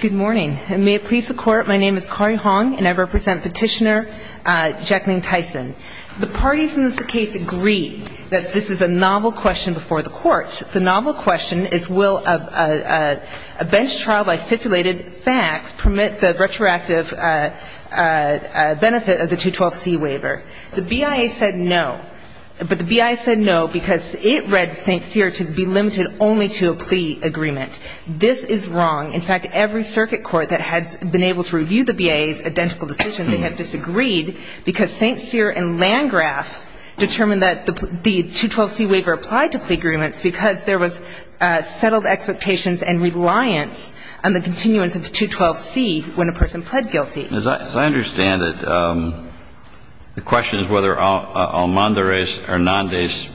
Good morning. May it please the court, my name is Kari Hong and I represent petitioner Jacqueline Tyson. The parties in this case agree that this is a novel question before the courts. The novel question is will a bench trial by stipulated facts permit the retroactive benefit of the 212C waiver? The BIA said no. But the BIA said no because it read St. Cyr and Landgraf determined that the 212C waiver applied to plea agreements because there was settled expectations and reliance on the continuance of the 212C when a person pled guilty. As I understand it, the question is whether Almandares-Hernandez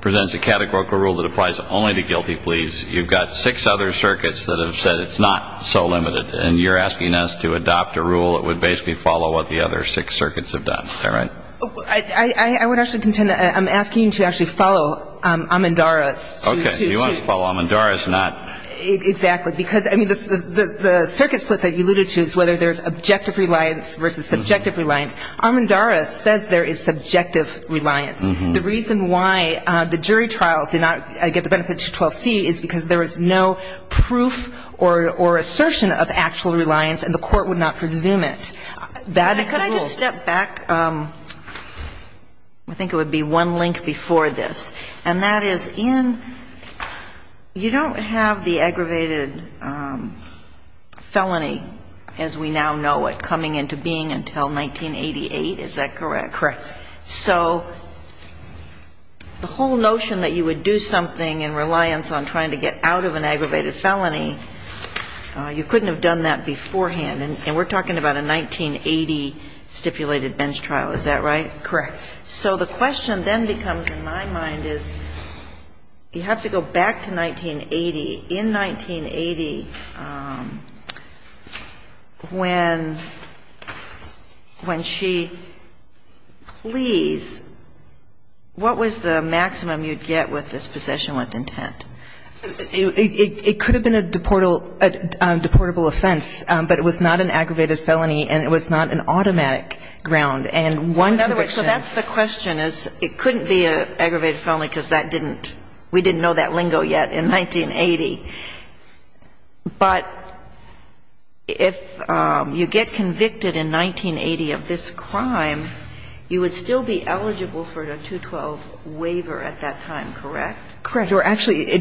presents a categorical rule that applies only to guilty plea agreements. You've got six other circuits that have said it's not so limited and you're asking us to adopt a rule that would basically follow what the other six circuits have done. Is that right? I would actually contend that I'm asking you to actually follow Almandares. Okay. You want us to follow Almandares, not... Exactly. Because, I mean, the circuit split that you alluded to is whether there's objective reliance versus subjective reliance. Almandares says there is subjective reliance. The reason why the jury trial did not get the benefit of 212C is because there was no proof or assertion of actual reliance and the court would not presume it. Could I just step back? I think it would be one link before this. And that is, Ian, you don't have the aggravated felony as we now know it coming into being until 1988. Is that correct? Correct. So the whole notion that you would do something in reliance on trying to get out of an aggravated felony, you couldn't have done that beforehand. And we're talking about a 1980 stipulated bench trial. Is that right? Correct. So the question then becomes, in my mind, is you have to go back to 1980. In 1980, when she pleas, what was the maximum you'd get with this possession with intent? It could have been a deportable offense, but it was not an aggravated felony and it was not an automatic ground. And one conviction... So in other words, so that's the question, is it couldn't be an aggravated felony because that didn't, we didn't know that lingo yet in 1980. But if you get convicted in 1980 of this crime, you would still be eligible for a 212 waiver at that time, correct? Correct. Or actually,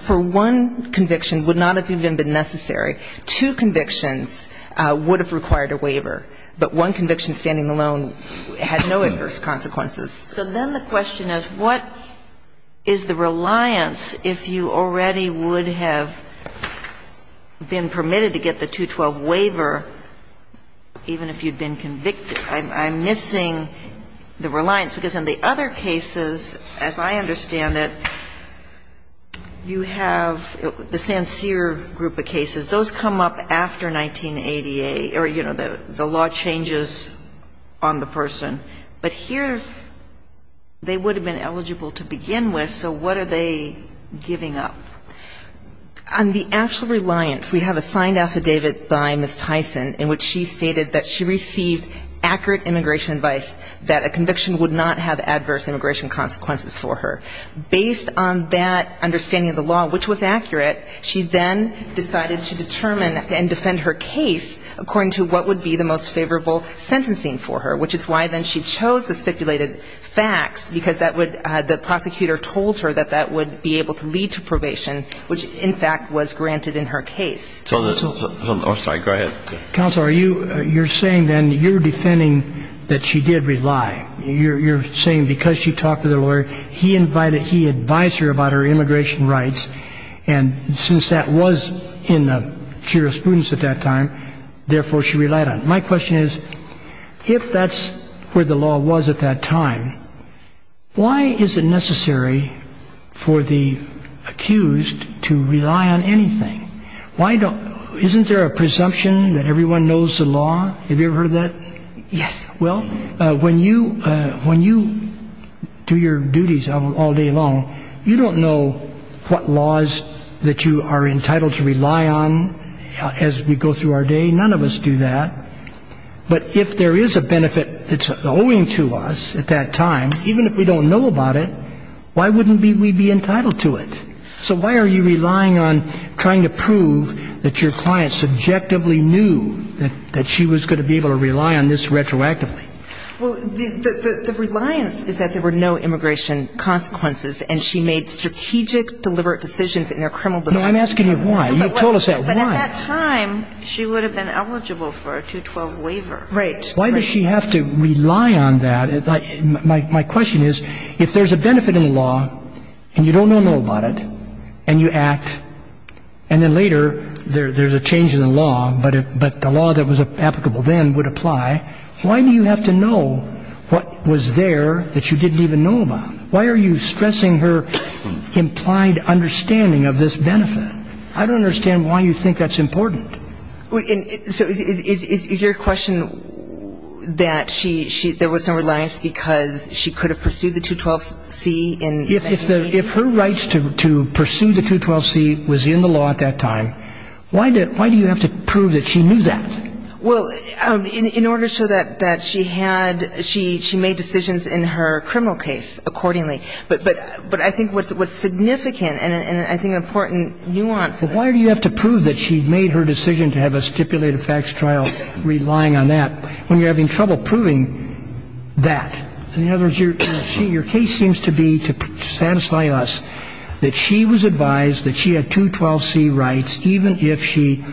for one conviction, would not have even been necessary. Two convictions would have required a waiver, but one conviction standing alone had no adverse consequences. So then the question is, what is the reliance if you already would have been permitted to get the 212 waiver even if you'd been convicted? I'm missing the reliance because in the other cases, as I understand it, you have the Sancier group of cases. Those come up after 1988 or, you know, the law changes on the person. But here, they would have been eligible to begin with, so what are they giving up? On the actual reliance, we have a signed affidavit by Ms. Tyson in which she stated that she received accurate immigration advice that a conviction would not have adverse immigration consequences for her. Based on that understanding of the law, which was accurate, she then decided to determine and defend her case according to what would be the most favorable sentencing for her, which is why then she chose the stipulated facts, because that would the prosecutor told her that that would be able to lead to probation, which, in fact, was granted in her case. I'm sorry. Go ahead. Counselor, you're saying then you're defending that she did rely. You're saying because she talked to the lawyer, he invited, he advised her about her immigration rights, and since that was in the jurisprudence at that time, therefore she relied on it. My question is, if that's where the law was at that time, why is it necessary for the accused to rely on anything? Why don't, isn't there a presumption that everyone knows the law? Have you ever heard of that? Yes. Well, when you do your duties all day long, you don't know what laws that you are entitled to rely on as we go through our day. None of us do that. But if there is a benefit that's owing to us at that time, even if we don't know about it, why wouldn't we be entitled to it? So why are you relying on trying to prove that your client subjectively knew that she was going to be able to rely on this retroactively? Well, the reliance is that there were no immigration consequences and she made strategic, deliberate decisions in her criminal defense. No, I'm asking you why. You've told us that. Why? But at that time, she would have been eligible for a 212 waiver. Right. Why does she have to rely on that? My question is, if there's a benefit in the law and you don't know about it and you act, and then later there's a change in the law, but the law that was applicable then would apply, why do you have to know what was there that you didn't even know about? Why are you stressing her implied understanding of this benefit? I don't understand why you think that's important. So is your question that there was no reliance because she could have pursued the 212C and investigated? If her rights to pursue the 212C was in the law at that time, why do you have to prove that she knew that? Well, in order to show that she had, she made decisions in her criminal case accordingly. But I think what's significant and I think important nuance is... Why do you have to prove that she made her decision to have a stipulated facts trial relying on that when you're having trouble proving that? In other words, your case seems to be to satisfy us that she was advised that she had 212C rights even if she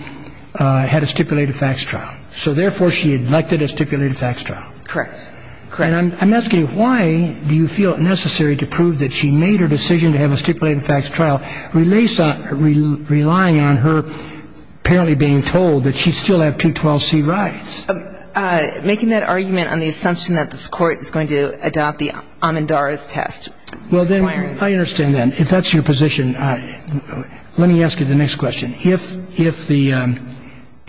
had a stipulated facts trial. So therefore, she had elected a stipulated facts trial. Correct. And I'm asking why do you feel it necessary to prove that she made her decision to have a stipulated facts trial relying on her apparently being told that she still had 212C rights? Making that argument on the assumption that this court is going to adopt the Amandara's test. Well, then, I understand that. If that's your position, let me ask you the next question. If the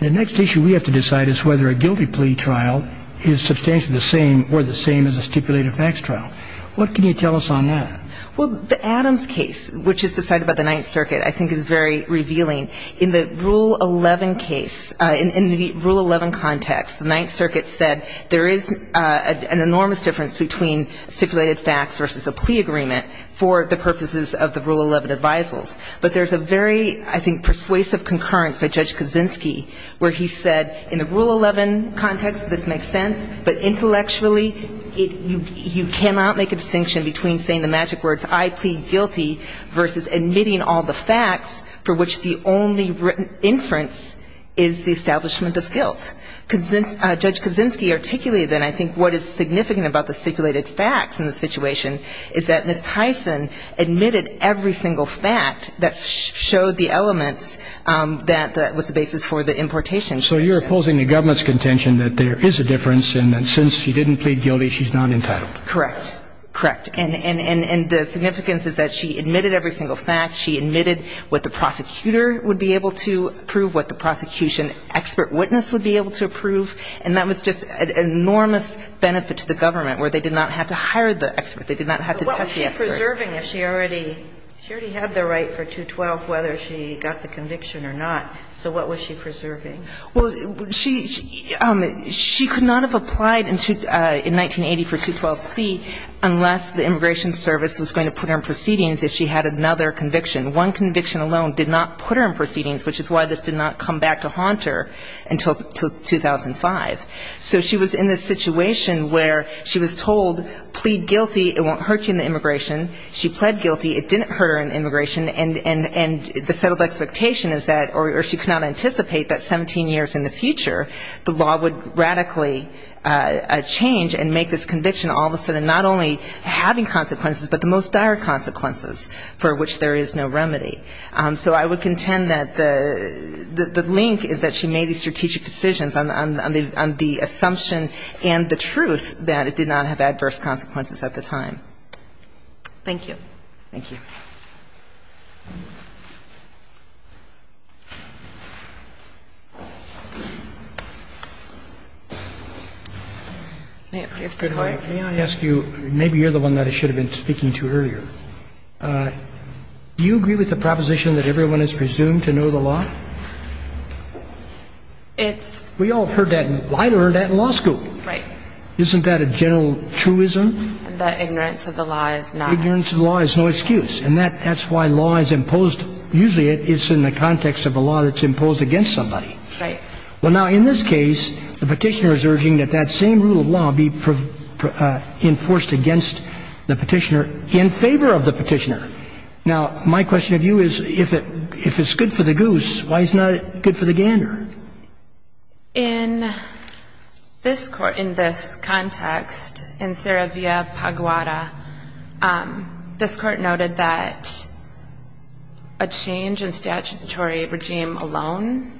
next issue we have to decide is whether a guilty plea trial is substantially the same or the same as a stipulated facts trial, what can you tell us on that? Well, the Adams case, which is decided by the Ninth Circuit, I think is very revealing. In the Rule 11 case, in the Rule 11 context, the Ninth Circuit said there is an enormous difference between stipulated facts versus a plea agreement for the purposes of the Rule 11 advisals. But there's a very, I think, persuasive concurrence by Judge Kaczynski where he said in the Rule 11 context, this makes sense, but intellectually, you cannot make a distinction between saying the magic words I plead guilty versus admitting all the facts for which the only inference is the establishment of guilt. Judge Kaczynski articulated that. I think what is significant about the stipulated facts in the situation is that Ms. Tyson admitted every single fact that showed the elements that was the basis for the importation. So you're opposing the government's contention that there is a difference and that since she didn't plead guilty, she's not entitled. Correct. Correct. And the significance is that she admitted every single fact. She admitted what the prosecutor would be able to prove, what the prosecution expert witness would be able to prove, and that was just an enormous benefit to the government, where they did not have to hire the expert. They did not have to test the expert. But what was she preserving? She already had the right for 212, whether she got the conviction or not. So what was she preserving? Well, she could not have applied in 1980 for 212C unless the Immigration Service was going to put her in proceedings if she had another conviction. One conviction alone did not put her in proceedings, which is why this did not come back to haunt her until 2005. So she was in this situation where she was told, plead guilty, it won't hurt you in the immigration. She pled guilty. It didn't hurt her in the immigration. And the settled expectation is that, or she could not anticipate that 17 years in the future, the law would radically change and make this conviction all of a sudden not only having consequences, but the most dire consequences for which there is no remedy. So I would contend that the link is that she made these strategic decisions on the assumption and the truth that it did not have adverse consequences at the time. Thank you. Thank you. May I ask you, maybe you're the one that I should have been speaking to earlier. Do you agree with the proposition that everyone is presumed to know the law? We all have heard that. I learned that in law school. Right. Isn't that a general truism? That ignorance of the law is not. It's an excuse. And that's why law is imposed, usually it's in the context of a law that's imposed against somebody. Right. Well, now, in this case, the petitioner is urging that that same rule of law be enforced against the petitioner in favor of the petitioner. Now, my question to you is, if it's good for the goose, why is it not good for the gander? In this context, in Saravia Paguada, this Court noted that a change in statutory regime alone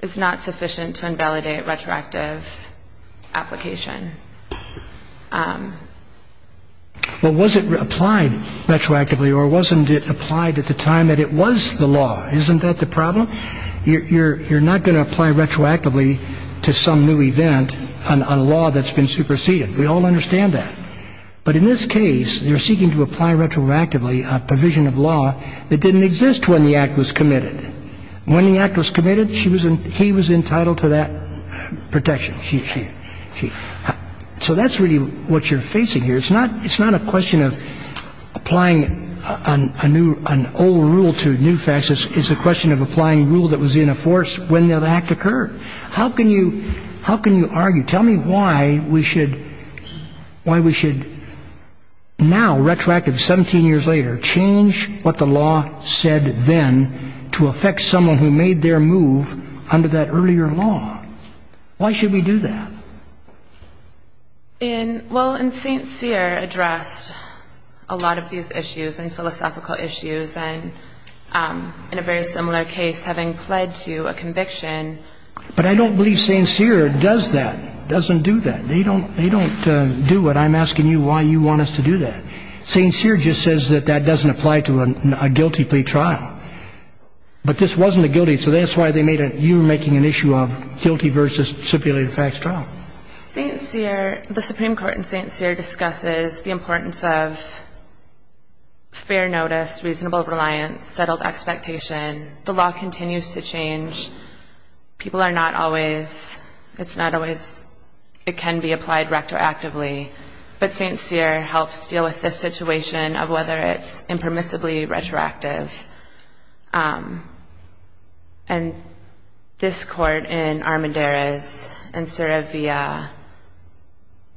is not sufficient to invalidate retroactive application. Well, was it applied retroactively, or wasn't it applied at the time that it was the law? Isn't that the problem? You're not going to apply retroactively to some new event on a law that's been superseded. We all understand that. But in this case, you're seeking to apply retroactively a provision of law that didn't exist when the act was committed. When the act was committed, she was entitled to that protection. So that's really what you're facing here. It's not a question of applying an old rule to new facts. It's a question of applying a rule that was in a force when the act occurred. How can you argue? Tell me why we should now, retroactively, 17 years later, change what the law said then to affect someone who made their move under that earlier law. Why should we do that? Well, and St. Cyr addressed a lot of these issues and philosophical issues and, in a very similar case, having pled to a conviction. But I don't believe St. Cyr does that, doesn't do that. They don't do it. I'm asking you why you want us to do that. St. Cyr just says that that doesn't apply to a guilty plea trial. But this wasn't a guilty. So that's why you're making an issue of guilty versus stipulated facts trial. St. Cyr, the Supreme Court in St. Cyr, discusses the importance of fair notice, reasonable reliance, settled expectation. The law continues to change. People are not always, it's not always, it can be applied retroactively. But St. Cyr helps deal with this situation of whether it's impermissibly retroactive. And this court in Armendariz and Serevia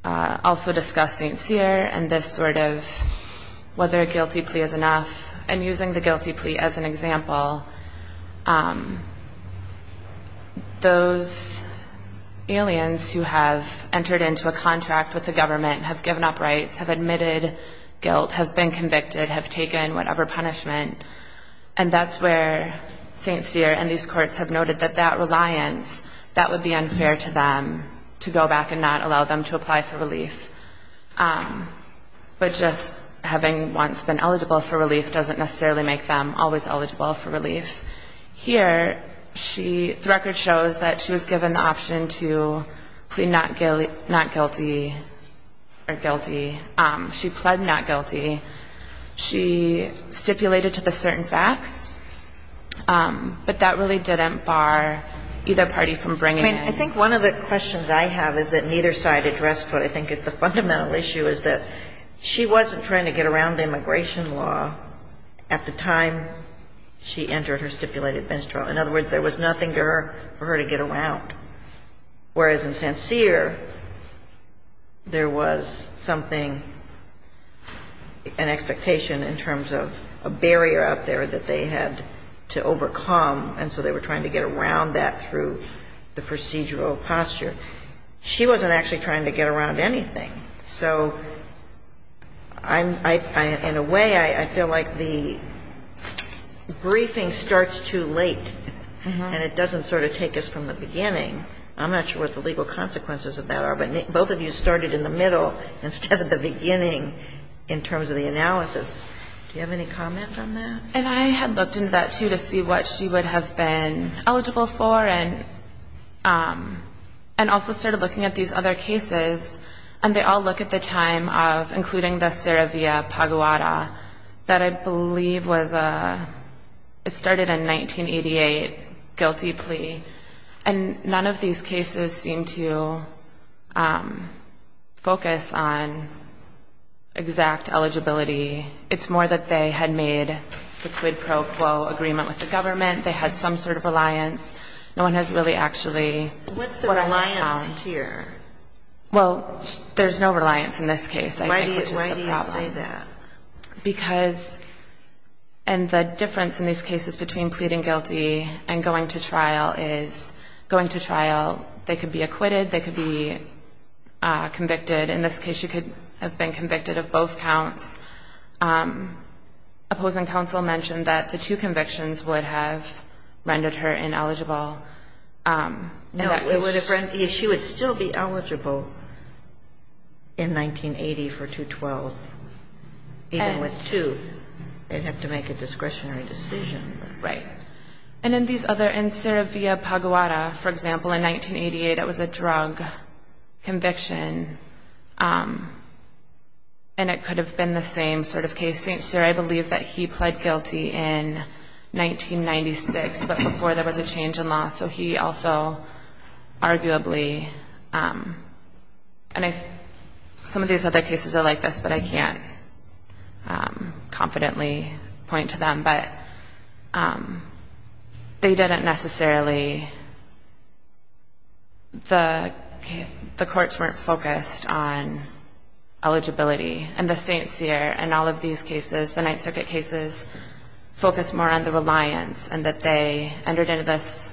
also discuss St. Cyr and this sort of whether a guilty plea is enough. And using the guilty plea as an example, those aliens who have entered into a contract with the government, have given up rights, have admitted guilt, have been convicted, have taken whatever punishment, and that's where St. Cyr and these courts have noted that that reliance, that would be unfair to them to go back and not allow them to apply for relief. But just having once been eligible for relief doesn't necessarily make them always eligible for relief. Here, the record shows that she was given the option to plead not guilty or guilty. She pled not guilty. She stipulated to the certain facts, but that really didn't bar either party from bringing in. I think one of the questions I have is that neither side addressed what I think is the fundamental issue, is that she wasn't trying to get around the immigration law at the time she entered. In other words, there was nothing for her to get around. Whereas in St. Cyr, there was something, an expectation in terms of a barrier out there that they had to overcome, and so they were trying to get around that through the procedural posture. She wasn't actually trying to get around anything. So in a way, I feel like the briefing starts too late. And it doesn't sort of take us from the beginning. I'm not sure what the legal consequences of that are. But both of you started in the middle instead of the beginning in terms of the analysis. Do you have any comment on that? And I had looked into that, too, to see what she would have been eligible for and also started looking at these other cases. And they all look at the time of including the Saravia Paguada that I believe was a ñ it started in 1988, guilty plea. And none of these cases seem to focus on exact eligibility. It's more that they had made the quid pro quo agreement with the government. They had some sort of alliance. No one has really actually what I found. Well, there's no reliance in this case, I think, which is the problem. Why do you say that? Because ñ and the difference in these cases between pleading guilty and going to trial is going to trial, they could be acquitted, they could be convicted. In this case, she could have been convicted of both counts. Opposing counsel mentioned that the two convictions would have rendered her ineligible. No, she would still be eligible in 1980 for 212, even with two. They'd have to make a discretionary decision. Right. And in these other ñ in Saravia Paguada, for example, in 1988, it was a drug conviction. And it could have been the same sort of case. In the case of St. Cyr, I believe that he pled guilty in 1996, but before there was a change in law. So he also arguably ñ and some of these other cases are like this, but I can't confidently point to them. But they didn't necessarily ñ the courts weren't focused on eligibility. And the St. Cyr and all of these cases, the Ninth Circuit cases, focused more on the reliance and that they entered into this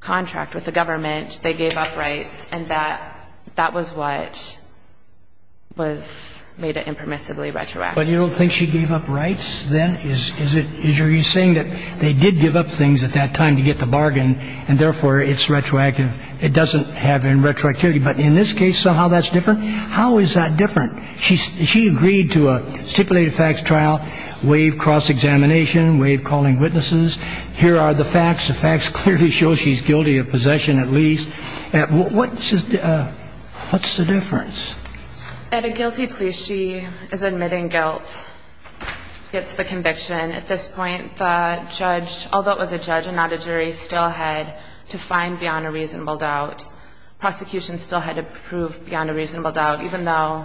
contract with the government, they gave up rights, and that was what was made it impermissibly retroactive. But you don't think she gave up rights then? Is it ñ are you saying that they did give up things at that time to get the bargain, and therefore it's retroactive? It doesn't have any retroactivity. But in this case, somehow that's different? How is that different? She agreed to a stipulated facts trial, waive cross-examination, waive calling witnesses. Here are the facts. The facts clearly show she's guilty of possession at least. What's the difference? At a guilty plea, she is admitting guilt. It's the conviction. At this point, the judge, although it was a judge and not a jury, still had to find beyond a reasonable doubt. Prosecution still had to prove beyond a reasonable doubt, even though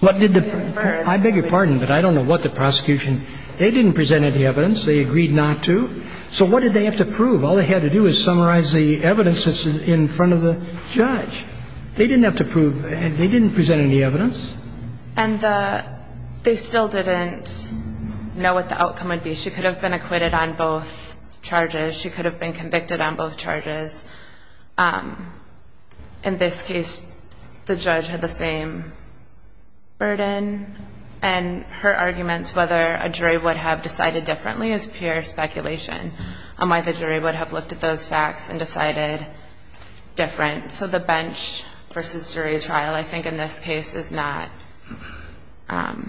the jury preferred I beg your pardon, but I don't know what the prosecution ñ they didn't present any evidence. They agreed not to. So what did they have to prove? All they had to do was summarize the evidence that's in front of the judge. They didn't have to prove ñ they didn't present any evidence. And the ñ they still didn't know what the outcome would be. She could have been acquitted on both charges. She could have been convicted on both charges. In this case, the judge had the same burden. And her arguments whether a jury would have decided differently is pure speculation on why the jury would have looked at those facts and decided different. So the bench-versus-jury trial, I think, in this case, is not ñ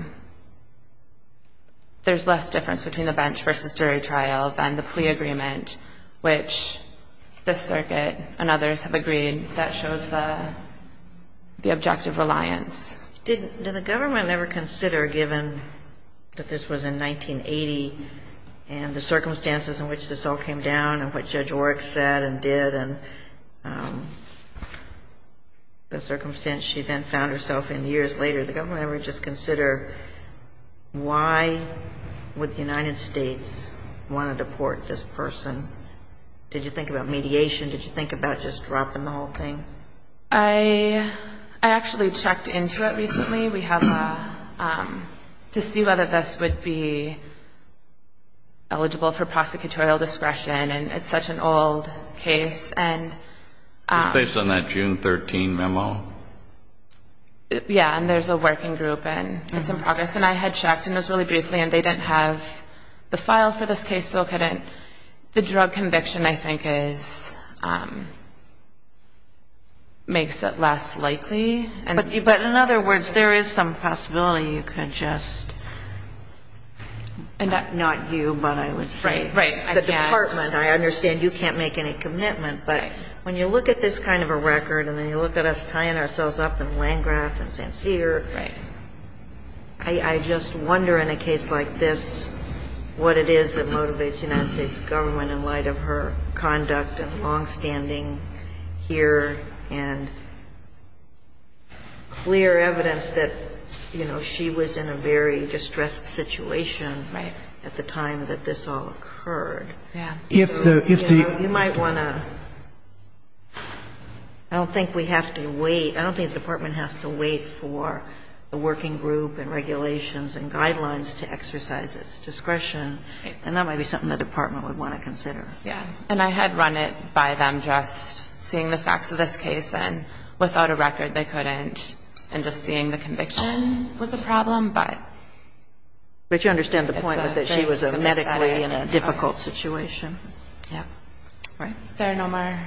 there's less difference between the bench-versus-jury trial than the plea agreement, which this circuit and others have agreed that shows the objective reliance. Did the government ever consider, given that this was in 1980, and the circumstances in which this all came down and what Judge Orrick said and did and the circumstance she then found herself in years later, did the government ever just consider why would the United States want to deport this person? Did you think about mediation? Did you think about just dropping the whole thing? I actually checked into it recently. We have a ñ to see whether this would be eligible for prosecutorial discretion. And it's such an old case. And ñ It's based on that June 13 memo. Yeah. And there's a working group. And it's in progress. And I had checked, and it was really briefly, and they didn't have the file for this case, so couldn't ñ the drug conviction, I think, is ñ makes it less likely. But in other words, there is some possibility you could just ñ not you, but I would say. Right. Right. The department. I understand you can't make any commitment. Right. When you look at this kind of a record, and then you look at us tying ourselves up in Landgraf and St. Cyr, I just wonder in a case like this what it is that motivates the United States government in light of her conduct and longstanding here and clear evidence that, you know, she was in a very distressed situation at the time that this all occurred. Yeah. If the ñ I might want to ñ I don't think we have to wait ñ I don't think the department has to wait for the working group and regulations and guidelines to exercise its discretion. Right. And that might be something the department would want to consider. Yeah. And I had run it by them just seeing the facts of this case. And without a record, they couldn't. And just seeing the conviction was a problem. But ñ But you understand the point was that she was medically in a difficult situation. Yeah. Right. Is there no more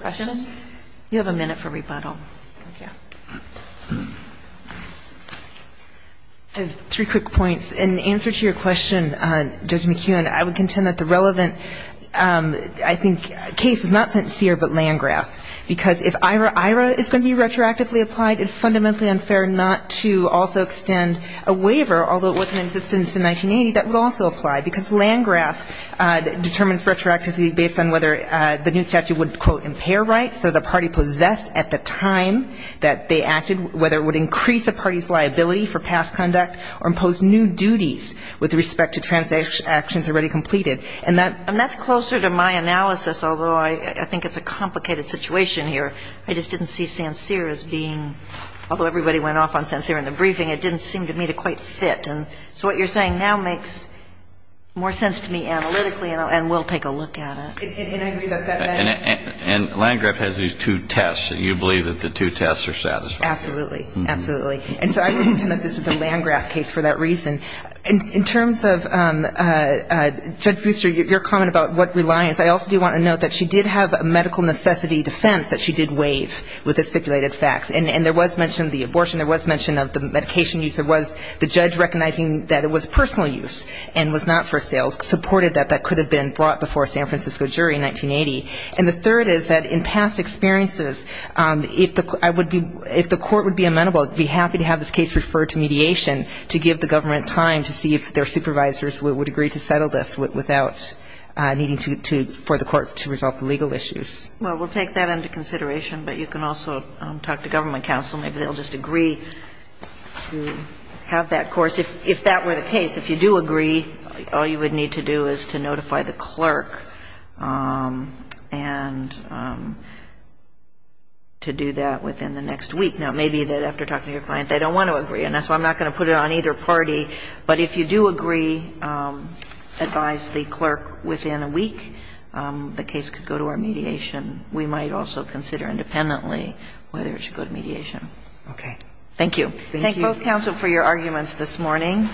questions? You have a minute for rebuttal. Thank you. I have three quick points. In answer to your question, Judge McEwen, I would contend that the relevant, I think, case is not St. Cyr but Landgraf. Because if IRA is going to be retroactively applied, it's fundamentally unfair not to also extend a waiver, although it was in existence in 1980, that would also apply. Because Landgraf determines retroactively based on whether the new statute would, quote, impair rights that a party possessed at the time that they acted, whether it would increase a party's liability for past conduct or impose new duties with respect to transactions already completed. And that ñ And that's closer to my analysis, although I think it's a complicated situation here. I just didn't see St. Cyr as being ñ although everybody went off on St. Cyr in the briefing, it didn't seem to me to quite fit. And so what you're saying now makes more sense to me analytically, and we'll take a look at it. And I agree that that ñ And Landgraf has these two tests, and you believe that the two tests are satisfied. Absolutely. Absolutely. And so I would contend that this is a Landgraf case for that reason. In terms of, Judge Booster, your comment about what reliance, I also do want to note that she did have a medical necessity defense that she did waive with the stipulated facts. And there was mention of the abortion. There was mention of the medication use. There was the judge recognizing that it was personal use and was not for sales, supported that that could have been brought before a San Francisco jury in 1980. And the third is that in past experiences, if the ñ I would be ñ if the court would be amenable, I'd be happy to have this case referred to mediation to give the government time to see if their supervisors would agree to settle this without needing to ñ for the court to resolve the legal issues. Well, we'll take that into consideration, but you can also talk to government counsel. Maybe they'll just agree to have that course. If that were the case, if you do agree, all you would need to do is to notify the clerk and to do that within the next week. Now, it may be that after talking to your client, they don't want to agree. And that's why I'm not going to put it on either party. But if you do agree, advise the clerk within a week, the case could go to our mediation. We might also consider independently whether it should go to mediation. Okay. Thank you. Thank you. Thank both counsel for your arguments this morning.